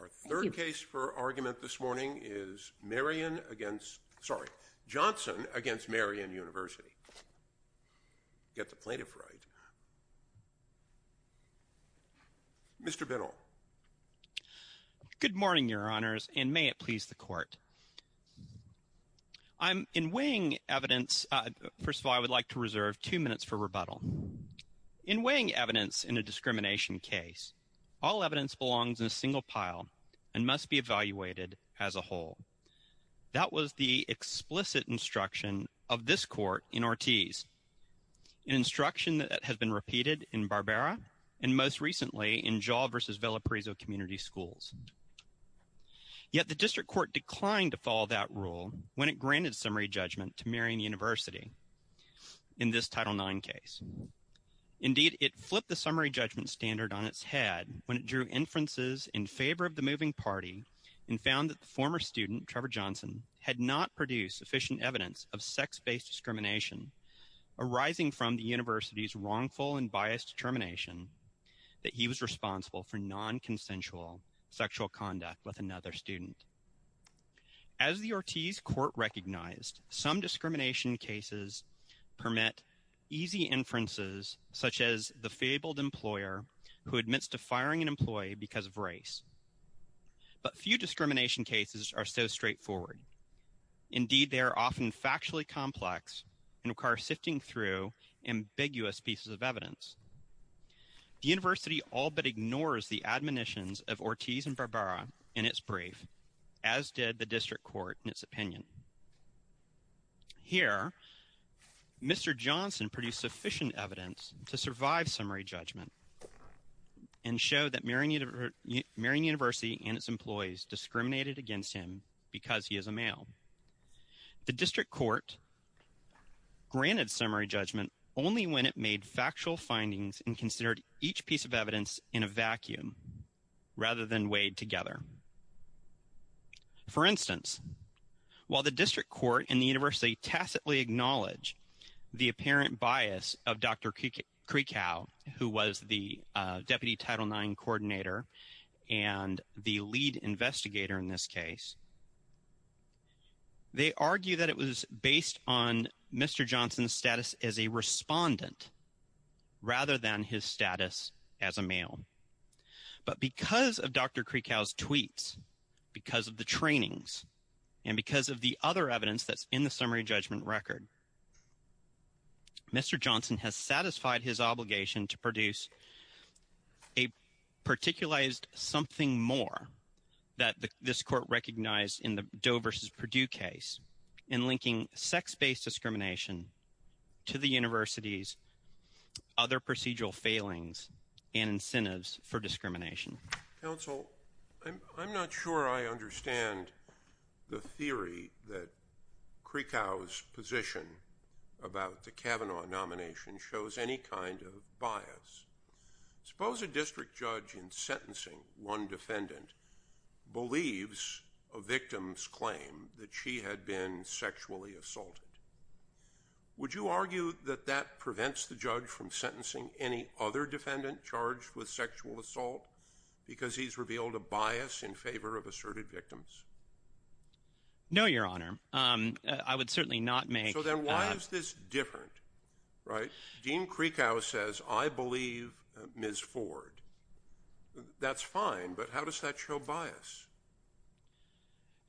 Our third case for argument this morning is Johnson v. Marian University. Get the plaintiff right. Mr. Biddle. Good morning, Your Honors, and may it please the Court. In weighing evidence, first of all, I would like to reserve two minutes for rebuttal. In weighing evidence in a discrimination case, all evidence belongs in a single pile and must be evaluated as a whole. That was the explicit instruction of this Court in Ortiz, an instruction that has been repeated in Barbera and most recently in Jaw v. Villa Parizzo Community Schools. Yet the District Court declined to follow that rule when it granted summary judgment to Marian University in this Title IX case. Indeed, it flipped the summary judgment standard on its head when it drew inferences in favor of the moving party and found that the former student, Trevor Johnson, had not produced sufficient evidence of sex-based discrimination arising from the University's wrongful and biased determination that he was responsible for nonconsensual sexual conduct with another student. As the Ortiz Court recognized, some discrimination cases permit easy inferences such as the fabled employer who admits to firing an employee because of race. But few discrimination cases are so straightforward. Indeed, they are often factually complex and require sifting through ambiguous pieces of evidence. The University all but ignores the admonitions of Ortiz and Barbera in its brief as did the District Court in its opinion. Here, Mr. Johnson produced sufficient evidence to survive summary judgment and showed that Marian University and its employees discriminated against him because he is a male. The District Court granted summary judgment only when it made factual findings and considered each piece of evidence in a vacuum rather than weighed together. For instance, while the District Court and the University tacitly acknowledge the apparent bias of Dr. Kreekow, who was the Deputy Title IX Coordinator and the lead investigator in this case, they argue that it was based on Mr. Johnson's status as a respondent rather than his status as a male. But because of Dr. Kreekow's tweets, because of the trainings, and because of the other evidence that's in the summary judgment record, Mr. Johnson has satisfied his obligation to produce a particularized something more that this Court recognized in the Doe v. Perdue case in linking sex-based discrimination to the University's other procedural failings and incentives for discrimination. Counsel, I'm not sure I understand the theory that Kreekow's position about the Kavanaugh nomination shows any kind of bias. Suppose a district judge in sentencing one defendant believes a victim's claim that she had been sexually assaulted. Would you argue that that prevents the judge from sentencing any other defendant charged with sexual assault because he's revealed a bias in favor of asserted victims? No, Your Honor. I would certainly not make— So then why is this different? Dean Kreekow says, I believe Ms. Ford. That's fine, but how does that show bias?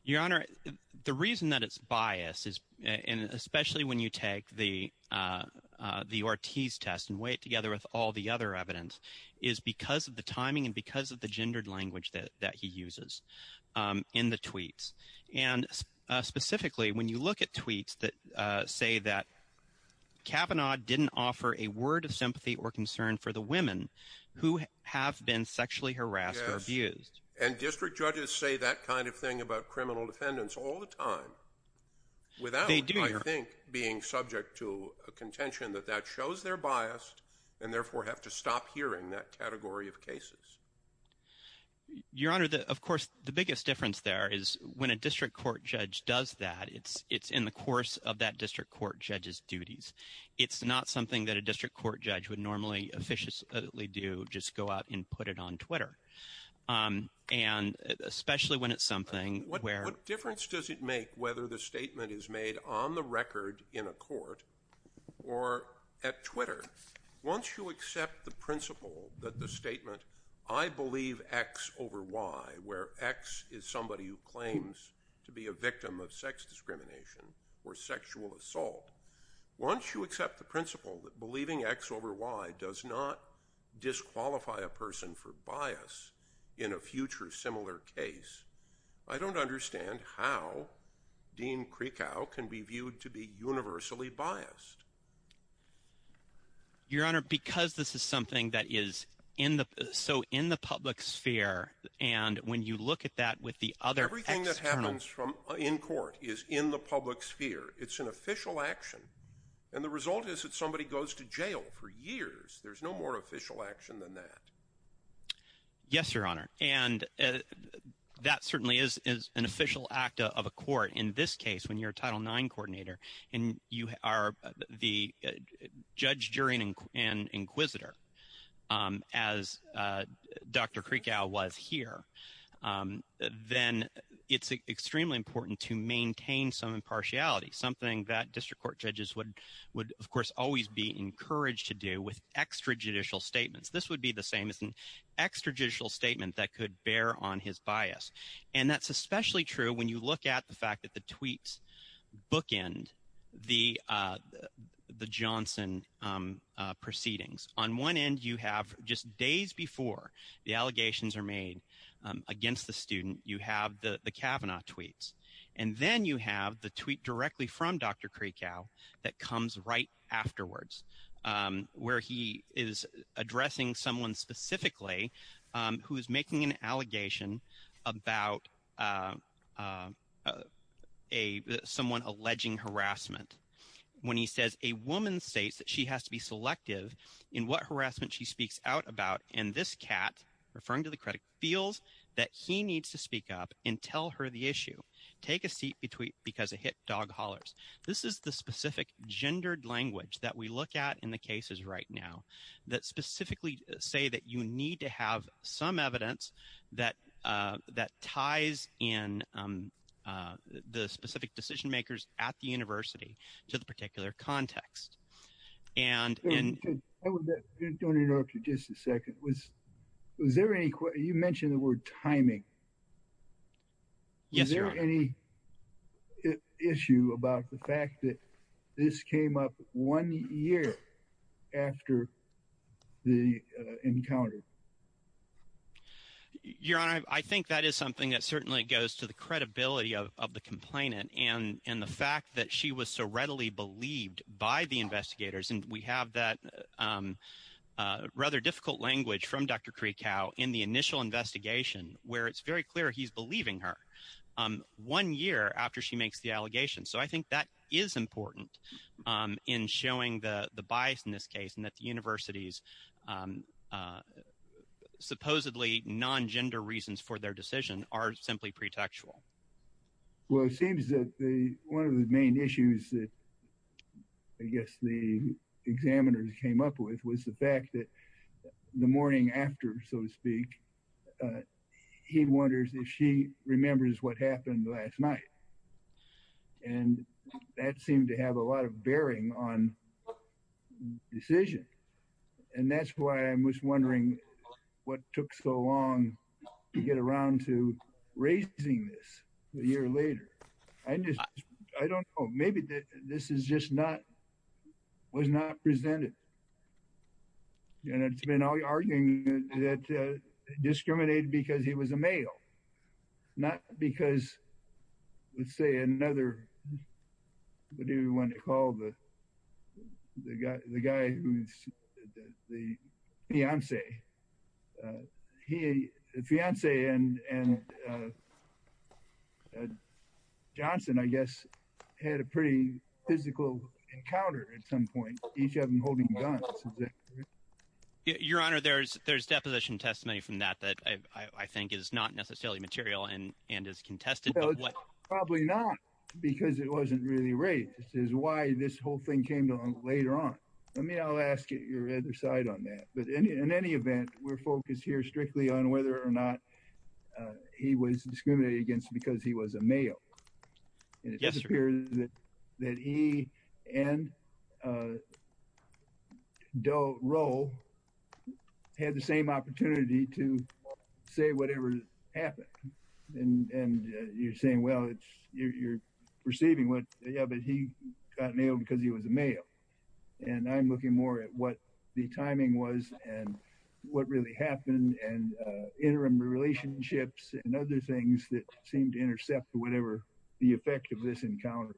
Your Honor, the reason that it's bias, especially when you take the Ortiz test and weigh it together with all the other evidence, is because of the timing and because of the gendered language that he uses in the tweets. And specifically, when you look at tweets that say that Kavanaugh didn't offer a word of sympathy or concern for the women who have been sexually harassed or abused. And district judges say that kind of thing about criminal defendants all the time. They do, Your Honor. Without, I think, being subject to a contention that that shows they're biased and therefore have to stop hearing that category of cases. Your Honor, of course, the biggest difference there is when a district court judge does that, it's in the course of that district court judge's duties. It's not something that a district court judge would normally officiously do, just go out and put it on Twitter. And especially when it's something where. What difference does it make whether the statement is made on the record in a court or at Twitter? Once you accept the principle that the statement, I believe X over Y, where X is somebody who claims to be a victim of sex discrimination or sexual assault. Once you accept the principle that believing X over Y does not disqualify a person for bias in a future similar case, I don't understand how Dean Krikow can be viewed to be universally biased. Your Honor, because this is something that is so in the public sphere, and when you look at that with the other external. Everything that happens in court is in the public sphere. It's an official action. And the result is that somebody goes to jail for years. There's no more official action than that. Yes, Your Honor. And that certainly is an official act of a court. In this case, when you're a Title IX coordinator and you are the judge, jury, and inquisitor, as Dr. Krikow was here, then it's extremely important to maintain some impartiality, something that district court judges would, of course, always be encouraged to do with extrajudicial statements. This would be the same as an extrajudicial statement that could bear on his bias. And that's especially true when you look at the fact that the tweets bookend the Johnson proceedings. On one end, you have just days before the allegations are made against the student, you have the Kavanaugh tweets. And then you have the tweet directly from Dr. Krikow that comes right afterwards, where he is addressing someone specifically who is making an allegation about someone alleging harassment. When he says, a woman states that she has to be selective in what harassment she speaks out about, and this cat, referring to the critic, feels that he needs to speak up and tell her the issue. Take a seat because a hit dog hollers. This is the specific gendered language that we look at in the cases right now that specifically say that you need to have some evidence that ties in the specific decision makers at the university to the particular context. And in order to just a second, was was there any you mentioned the word timing? Yes, there are any issue about the fact that this came up one year after the encounter. Your Honor, I think that is something that certainly goes to the credibility of the complainant and in the fact that she was so readily believed by the investigators. And we have that rather difficult language from Dr. Krikow in the initial investigation where it's very clear he's believing her one year after she makes the allegation. So I think that is important in showing the bias in this case and that the university's supposedly non-gender reasons for their decision are simply pretextual. Well, it seems that one of the main issues that I guess the examiners came up with was the fact that the morning after, so to speak, he wonders if she remembers what happened last night. And that seemed to have a lot of bearing on decision. And that's why I was wondering what took so long to get around to raising this a year later. I just I don't know. Maybe this is just not was not presented. And it's been arguing that discriminated because he was a male, not because, let's say, another. What do you want to call the guy, the guy who's the fiance, the fiance and Johnson, I guess, had a pretty physical encounter at some point, each of them holding guns. Your Honor, there's there's deposition testimony from that that I think is not necessarily material and and is contested. So it's probably not because it wasn't really raised is why this whole thing came down later on. I mean, I'll ask your other side on that. But in any event, we're focused here strictly on whether or not he was discriminated against because he was a male. Yes, sir. That he and Doe Rowe had the same opportunity to say whatever happened. And you're saying, well, you're perceiving what. Yeah, but he got nailed because he was a male. And I'm looking more at what the timing was and what really happened and interim relationships and other things that seemed to intercept whatever the effect of this encounter.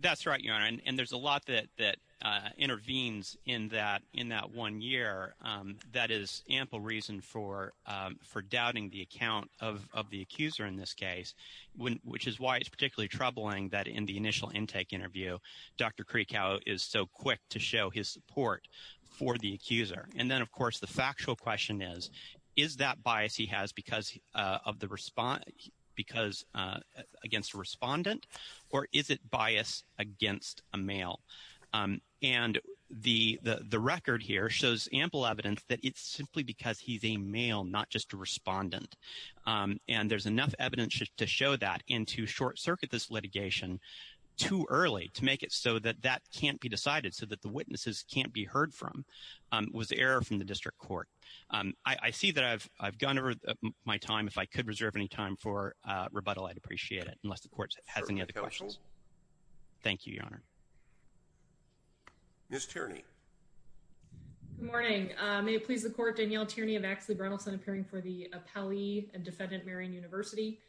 That's right. And there's a lot that that intervenes in that in that one year. That is ample reason for for doubting the account of the accuser in this case, which is why it's particularly troubling that in the initial intake interview, Dr. And the the record here shows ample evidence that it's simply because he's a male, not just a respondent. And there's enough evidence to show that into short circuit. This litigation too early to make it so that that can't be decided so that the witnesses can't be heard from was error from the district court. I see that I've I've gone over my time. If I could reserve any time for rebuttal, I'd appreciate it unless the court has any other questions. Thank you, Your Honor. Miss Tierney. Good morning. May it please the court. Danielle Tierney of Axley Brunelson appearing for the appellee and defendant, Marion University.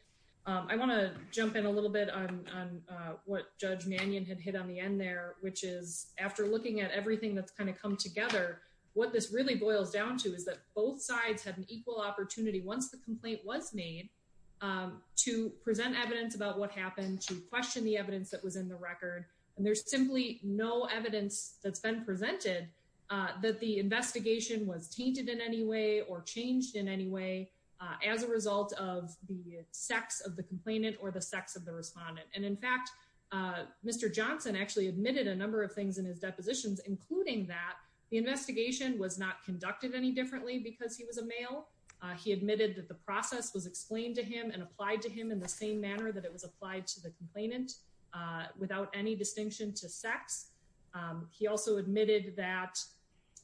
I want to jump in a little bit on what Judge Mannion had hit on the end there, which is after looking at everything that's kind of come together. What this really boils down to is that both sides have an equal opportunity once the complaint was made to present evidence about what happened to question the evidence that was in the record. And there's simply no evidence that's been presented that the investigation was tainted in any way or changed in any way as a result of the sex of the complainant or the sex of the respondent. And in fact, Mr. Johnson actually admitted a number of things in his depositions, including that the investigation was not conducted any differently because he was a male. He admitted that the process was explained to him and applied to him in the same manner that it was applied to the complainant without any distinction to sex. He also admitted that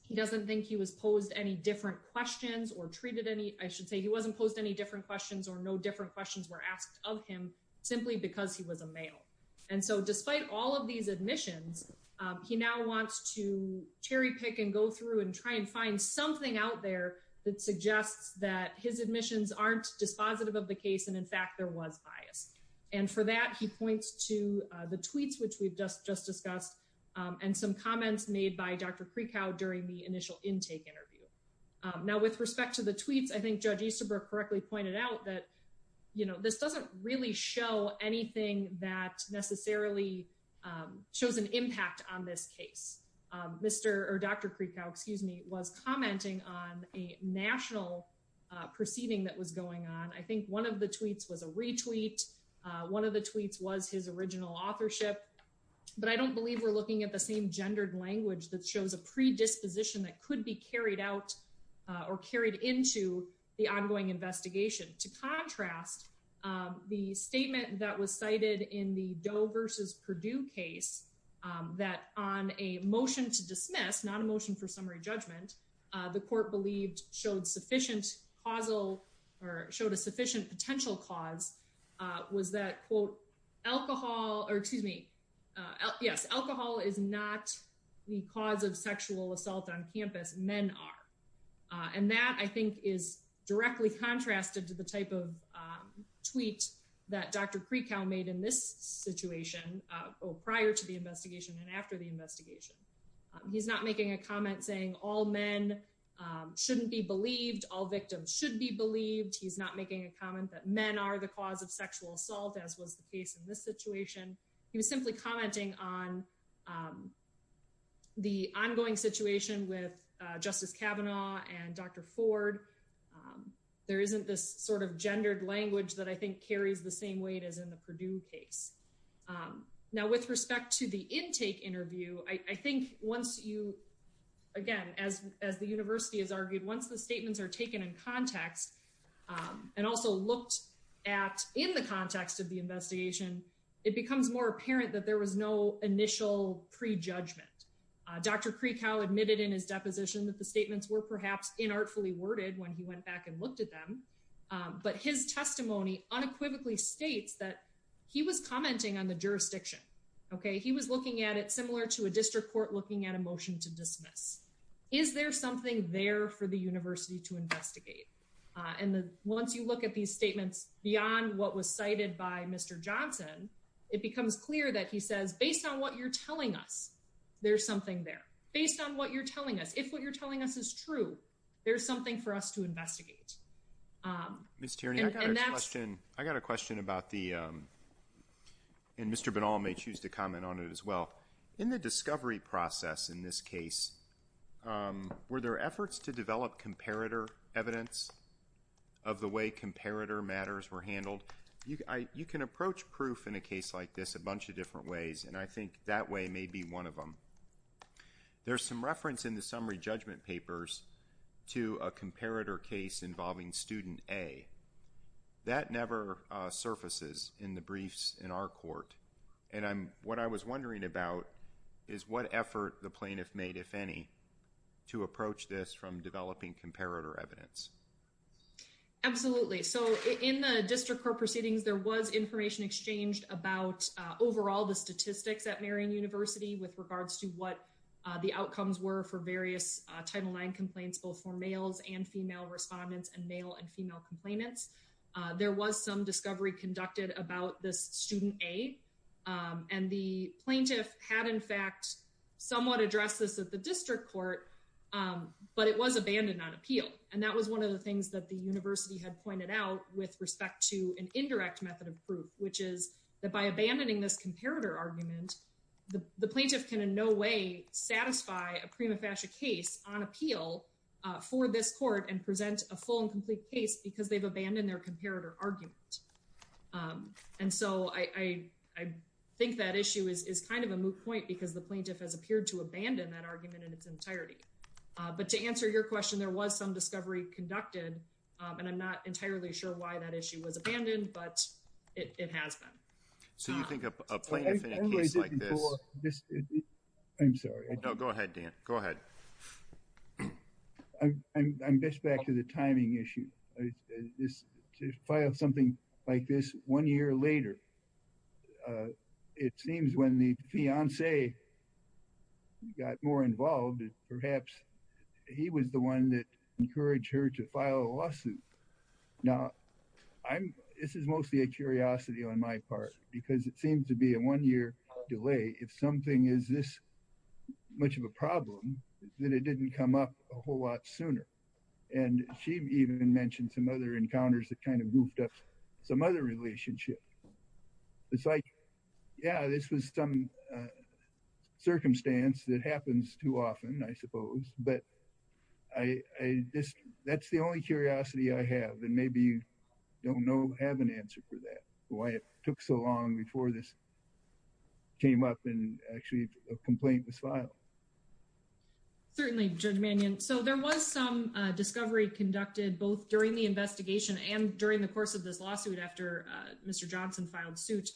he doesn't think he was posed any different questions or treated any I should say he wasn't posed any different questions or no different questions were asked of him simply because he was a male. And so despite all of these admissions, he now wants to cherry pick and go through and try and find something out there that suggests that his admissions aren't dispositive of the case. And in fact, there was bias. And for that, he points to the tweets, which we've just just discussed, and some comments made by Dr. Krikow during the initial intake interview. Now, with respect to the tweets, I think Judge Easterbrook correctly pointed out that, you know, this doesn't really show anything that necessarily shows an impact on this case. Mr. or Dr. Krikow, excuse me, was commenting on a national proceeding that was going on. I think one of the tweets was a retweet. One of the tweets was his original authorship. But I don't believe we're looking at the same gendered language that shows a predisposition that could be carried out or carried into the ongoing investigation. To contrast, the statement that was cited in the Doe versus Purdue case that on a motion to dismiss, not a motion for summary judgment, the court believed showed sufficient causal or showed a sufficient potential cause was that, quote, alcohol or excuse me. Yes, alcohol is not the cause of sexual assault on campus. Men are. And that I think is directly contrasted to the type of tweet that Dr. Krikow made in this situation prior to the investigation and after the investigation. He's not making a comment saying all men shouldn't be believed, all victims should be believed. He's not making a comment that men are the cause of sexual assault, as was the case in this situation. He was simply commenting on the ongoing situation with Justice Kavanaugh and Dr. Ford. There isn't this sort of gendered language that I think carries the same weight as in the Purdue case. Now, with respect to the intake interview, I think once you again, as as the university has argued, once the statements are taken in context and also looked at in the context of the investigation, it becomes more apparent that there was no initial prejudgment. Dr. Krikow admitted in his deposition that the statements were perhaps inartfully worded when he went back and looked at them. But his testimony unequivocally states that he was commenting on the jurisdiction. He was looking at it similar to a district court looking at a motion to dismiss. Is there something there for the university to investigate? And once you look at these statements beyond what was cited by Mr. Johnson, it becomes clear that he says, based on what you're telling us, there's something there. Based on what you're telling us, if what you're telling us is true, there's something for us to investigate. Ms. Tierney, I've got a question. I've got a question about the, and Mr. Binal may choose to comment on it as well. In the discovery process in this case, were there efforts to develop comparator evidence of the way comparator matters were handled? You can approach proof in a case like this a bunch of different ways, and I think that way may be one of them. There's some reference in the summary judgment papers to a comparator case involving student A. That never surfaces in the briefs in our court. And what I was wondering about is what effort the plaintiff made, if any, to approach this from developing comparator evidence. Absolutely. So in the district court proceedings, there was information exchanged about overall the statistics at Marion University with regards to what the outcomes were for various Title IX complaints, both for males and female respondents and male and female complainants. There was some discovery conducted about this student A, and the plaintiff had, in fact, somewhat addressed this at the district court, but it was abandoned on appeal. And that was one of the things that the university had pointed out with respect to an indirect method of proof, which is that by abandoning this comparator argument, the plaintiff can in no way satisfy a prima facie case on appeal for this court and present a full and complete case because they've abandoned their comparator argument. And so I think that issue is kind of a moot point because the plaintiff has appeared to abandon that argument in its entirety. But to answer your question, there was some discovery conducted, and I'm not entirely sure why that issue was abandoned, but it has been. So you think a plaintiff in a case like this. I'm sorry. No, go ahead, Dan. Go ahead. I'm just back to the timing issue. Yeah, I would like to add that the plaintiff had the opportunity to file something like this one year later. It seems when the fiancé got more involved, perhaps he was the one that encouraged her to file a lawsuit. Now, this is mostly a curiosity on my part, because it seems to be a one-year delay. If something is this much of a problem, then it didn't come up a whole lot sooner. And she even mentioned some other encounters that kind of goofed up some other relationship. It's like, yeah, this was some circumstance that happens too often, I suppose. But that's the only curiosity I have, and maybe you don't have an answer for that, why it took so long before this came up and actually a complaint was filed. Certainly, Judge Mannion. So there was some discovery conducted both during the investigation and during the course of this lawsuit after Mr. Johnson filed suit.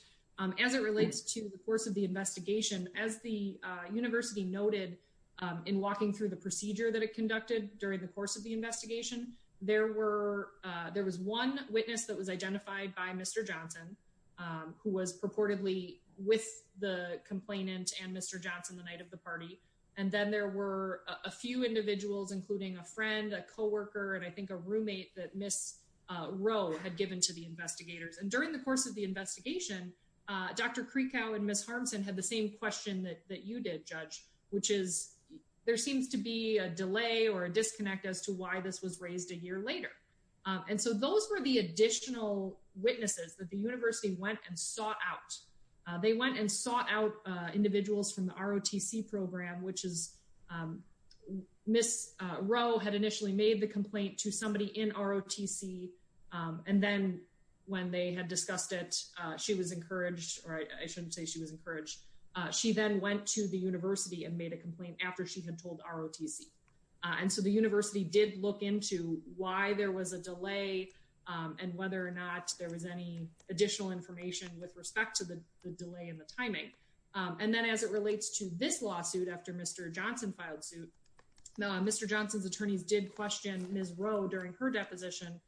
As it relates to the course of the investigation, as the university noted in walking through the procedure that it conducted during the course of the investigation, there was one witness that was identified by Mr. Johnson, who was purportedly with the complainant and Mr. Johnson the night of the party. And then there were a few individuals, including a friend, a co-worker, and I think a roommate that Ms. Rowe had given to the investigators. And during the course of the investigation, Dr. Krikow and Ms. Harmsen had the same question that you did, Judge, which is there seems to be a delay or a disconnect as to why this was raised a year later. And so those were the additional witnesses that the university went and sought out. They went and sought out individuals from the ROTC program, which is Ms. Rowe had initially made the complaint to somebody in ROTC. And then when they had discussed it, she was encouraged or I shouldn't say she was encouraged. She then went to the university and made a complaint after she had told ROTC. And so the university did look into why there was a delay and whether or not there was any additional information with respect to the delay in the timing. And then as it relates to this lawsuit after Mr. Johnson filed suit, Mr. Johnson's attorneys did question Ms. Rowe during her deposition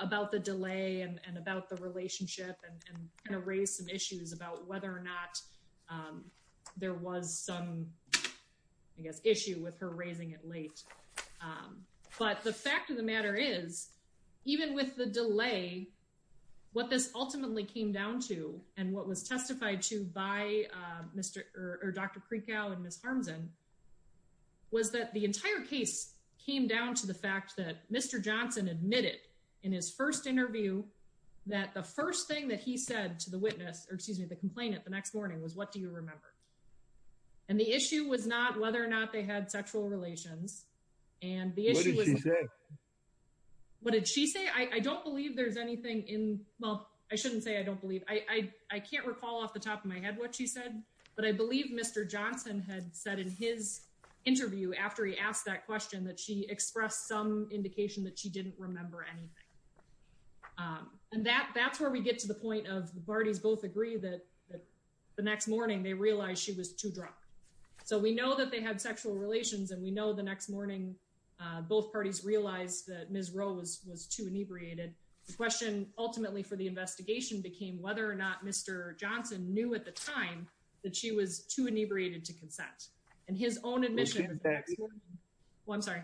about the delay and about the relationship and kind of raise some issues about whether or not there was some, I guess, issue with her raising it late. But the fact of the matter is, even with the delay, what this ultimately came down to and what was testified to by Dr. Kreekow and Ms. Harmsen was that the entire case came down to the fact that Mr. Johnson admitted in his first interview that the first thing that he said to the witness or excuse me, the complainant the next morning was, what do you remember? And the issue was not whether or not they had sexual relations. And the issue was what did she say? I don't believe there's anything in well, I shouldn't say I don't believe I can't recall off the top of my head what she said. But I believe Mr. Johnson had said in his interview after he asked that question that she expressed some indication that she didn't remember anything. And that that's where we get to the point of the parties both agree that the next morning they realized she was too drunk. So we know that they had sexual relations and we know the next morning both parties realized that Ms. Rowe was too inebriated. The question ultimately for the investigation became whether or not Mr. Johnson knew at the time that she was too inebriated to consent and his own admission. Well, I'm sorry.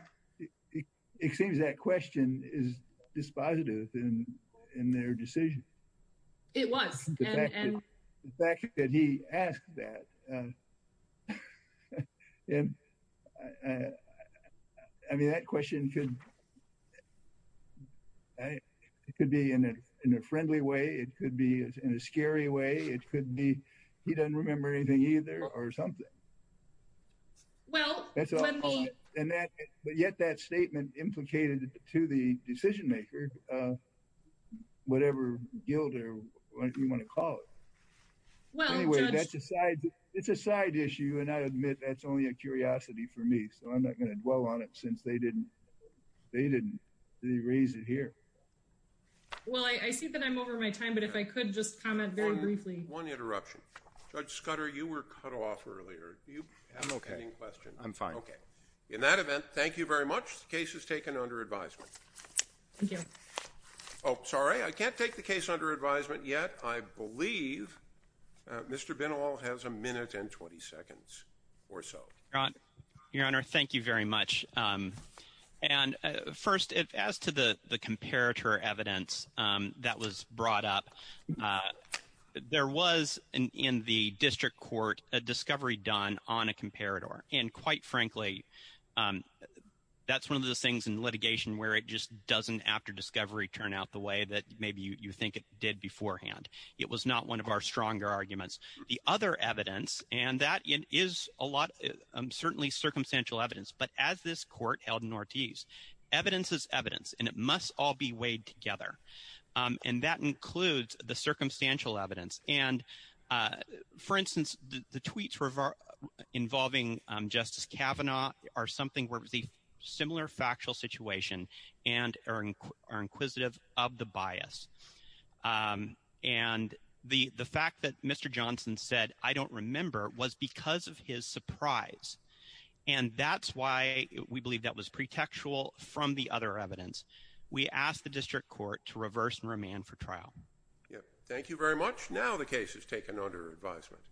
It seems that question is dispositive in their decision. It was. And the fact that he asked that. And I mean, that question could be in a friendly way. It could be in a scary way. It could be he doesn't remember anything either or something. Well, that's all. And yet that statement implicated to the decision maker, whatever you want to call it. Well, anyway, that's a side. It's a side issue. And I admit that's only a curiosity for me. So I'm not going to dwell on it since they didn't. They didn't raise it here. Well, I see that I'm over my time, but if I could just comment very briefly. One interruption. Judge Scudder, you were cut off earlier. I'm OK. I'm fine. OK. In that event, thank you very much. The case is taken under advisement. Thank you. Oh, sorry. I can't take the case under advisement yet. I believe Mr. Benall has a minute and 20 seconds or so. Your Honor, thank you very much. And first, as to the comparator evidence that was brought up. There was, in the district court, a discovery done on a comparator. And quite frankly, that's one of those things in litigation where it just doesn't, after discovery, turn out the way that maybe you think it did beforehand. It was not one of our stronger arguments. The other evidence, and that is certainly circumstantial evidence, but as this court held in Ortiz, evidence is evidence, and it must all be weighed together. And that includes the circumstantial evidence. And, for instance, the tweets involving Justice Kavanaugh are something where it was a similar factual situation and are inquisitive of the bias. And the fact that Mr. Johnson said, I don't remember, was because of his surprise. And that's why we believe that was pretextual from the other evidence. We ask the district court to reverse and remand for trial. Thank you very much. Now the case is taken under advisement.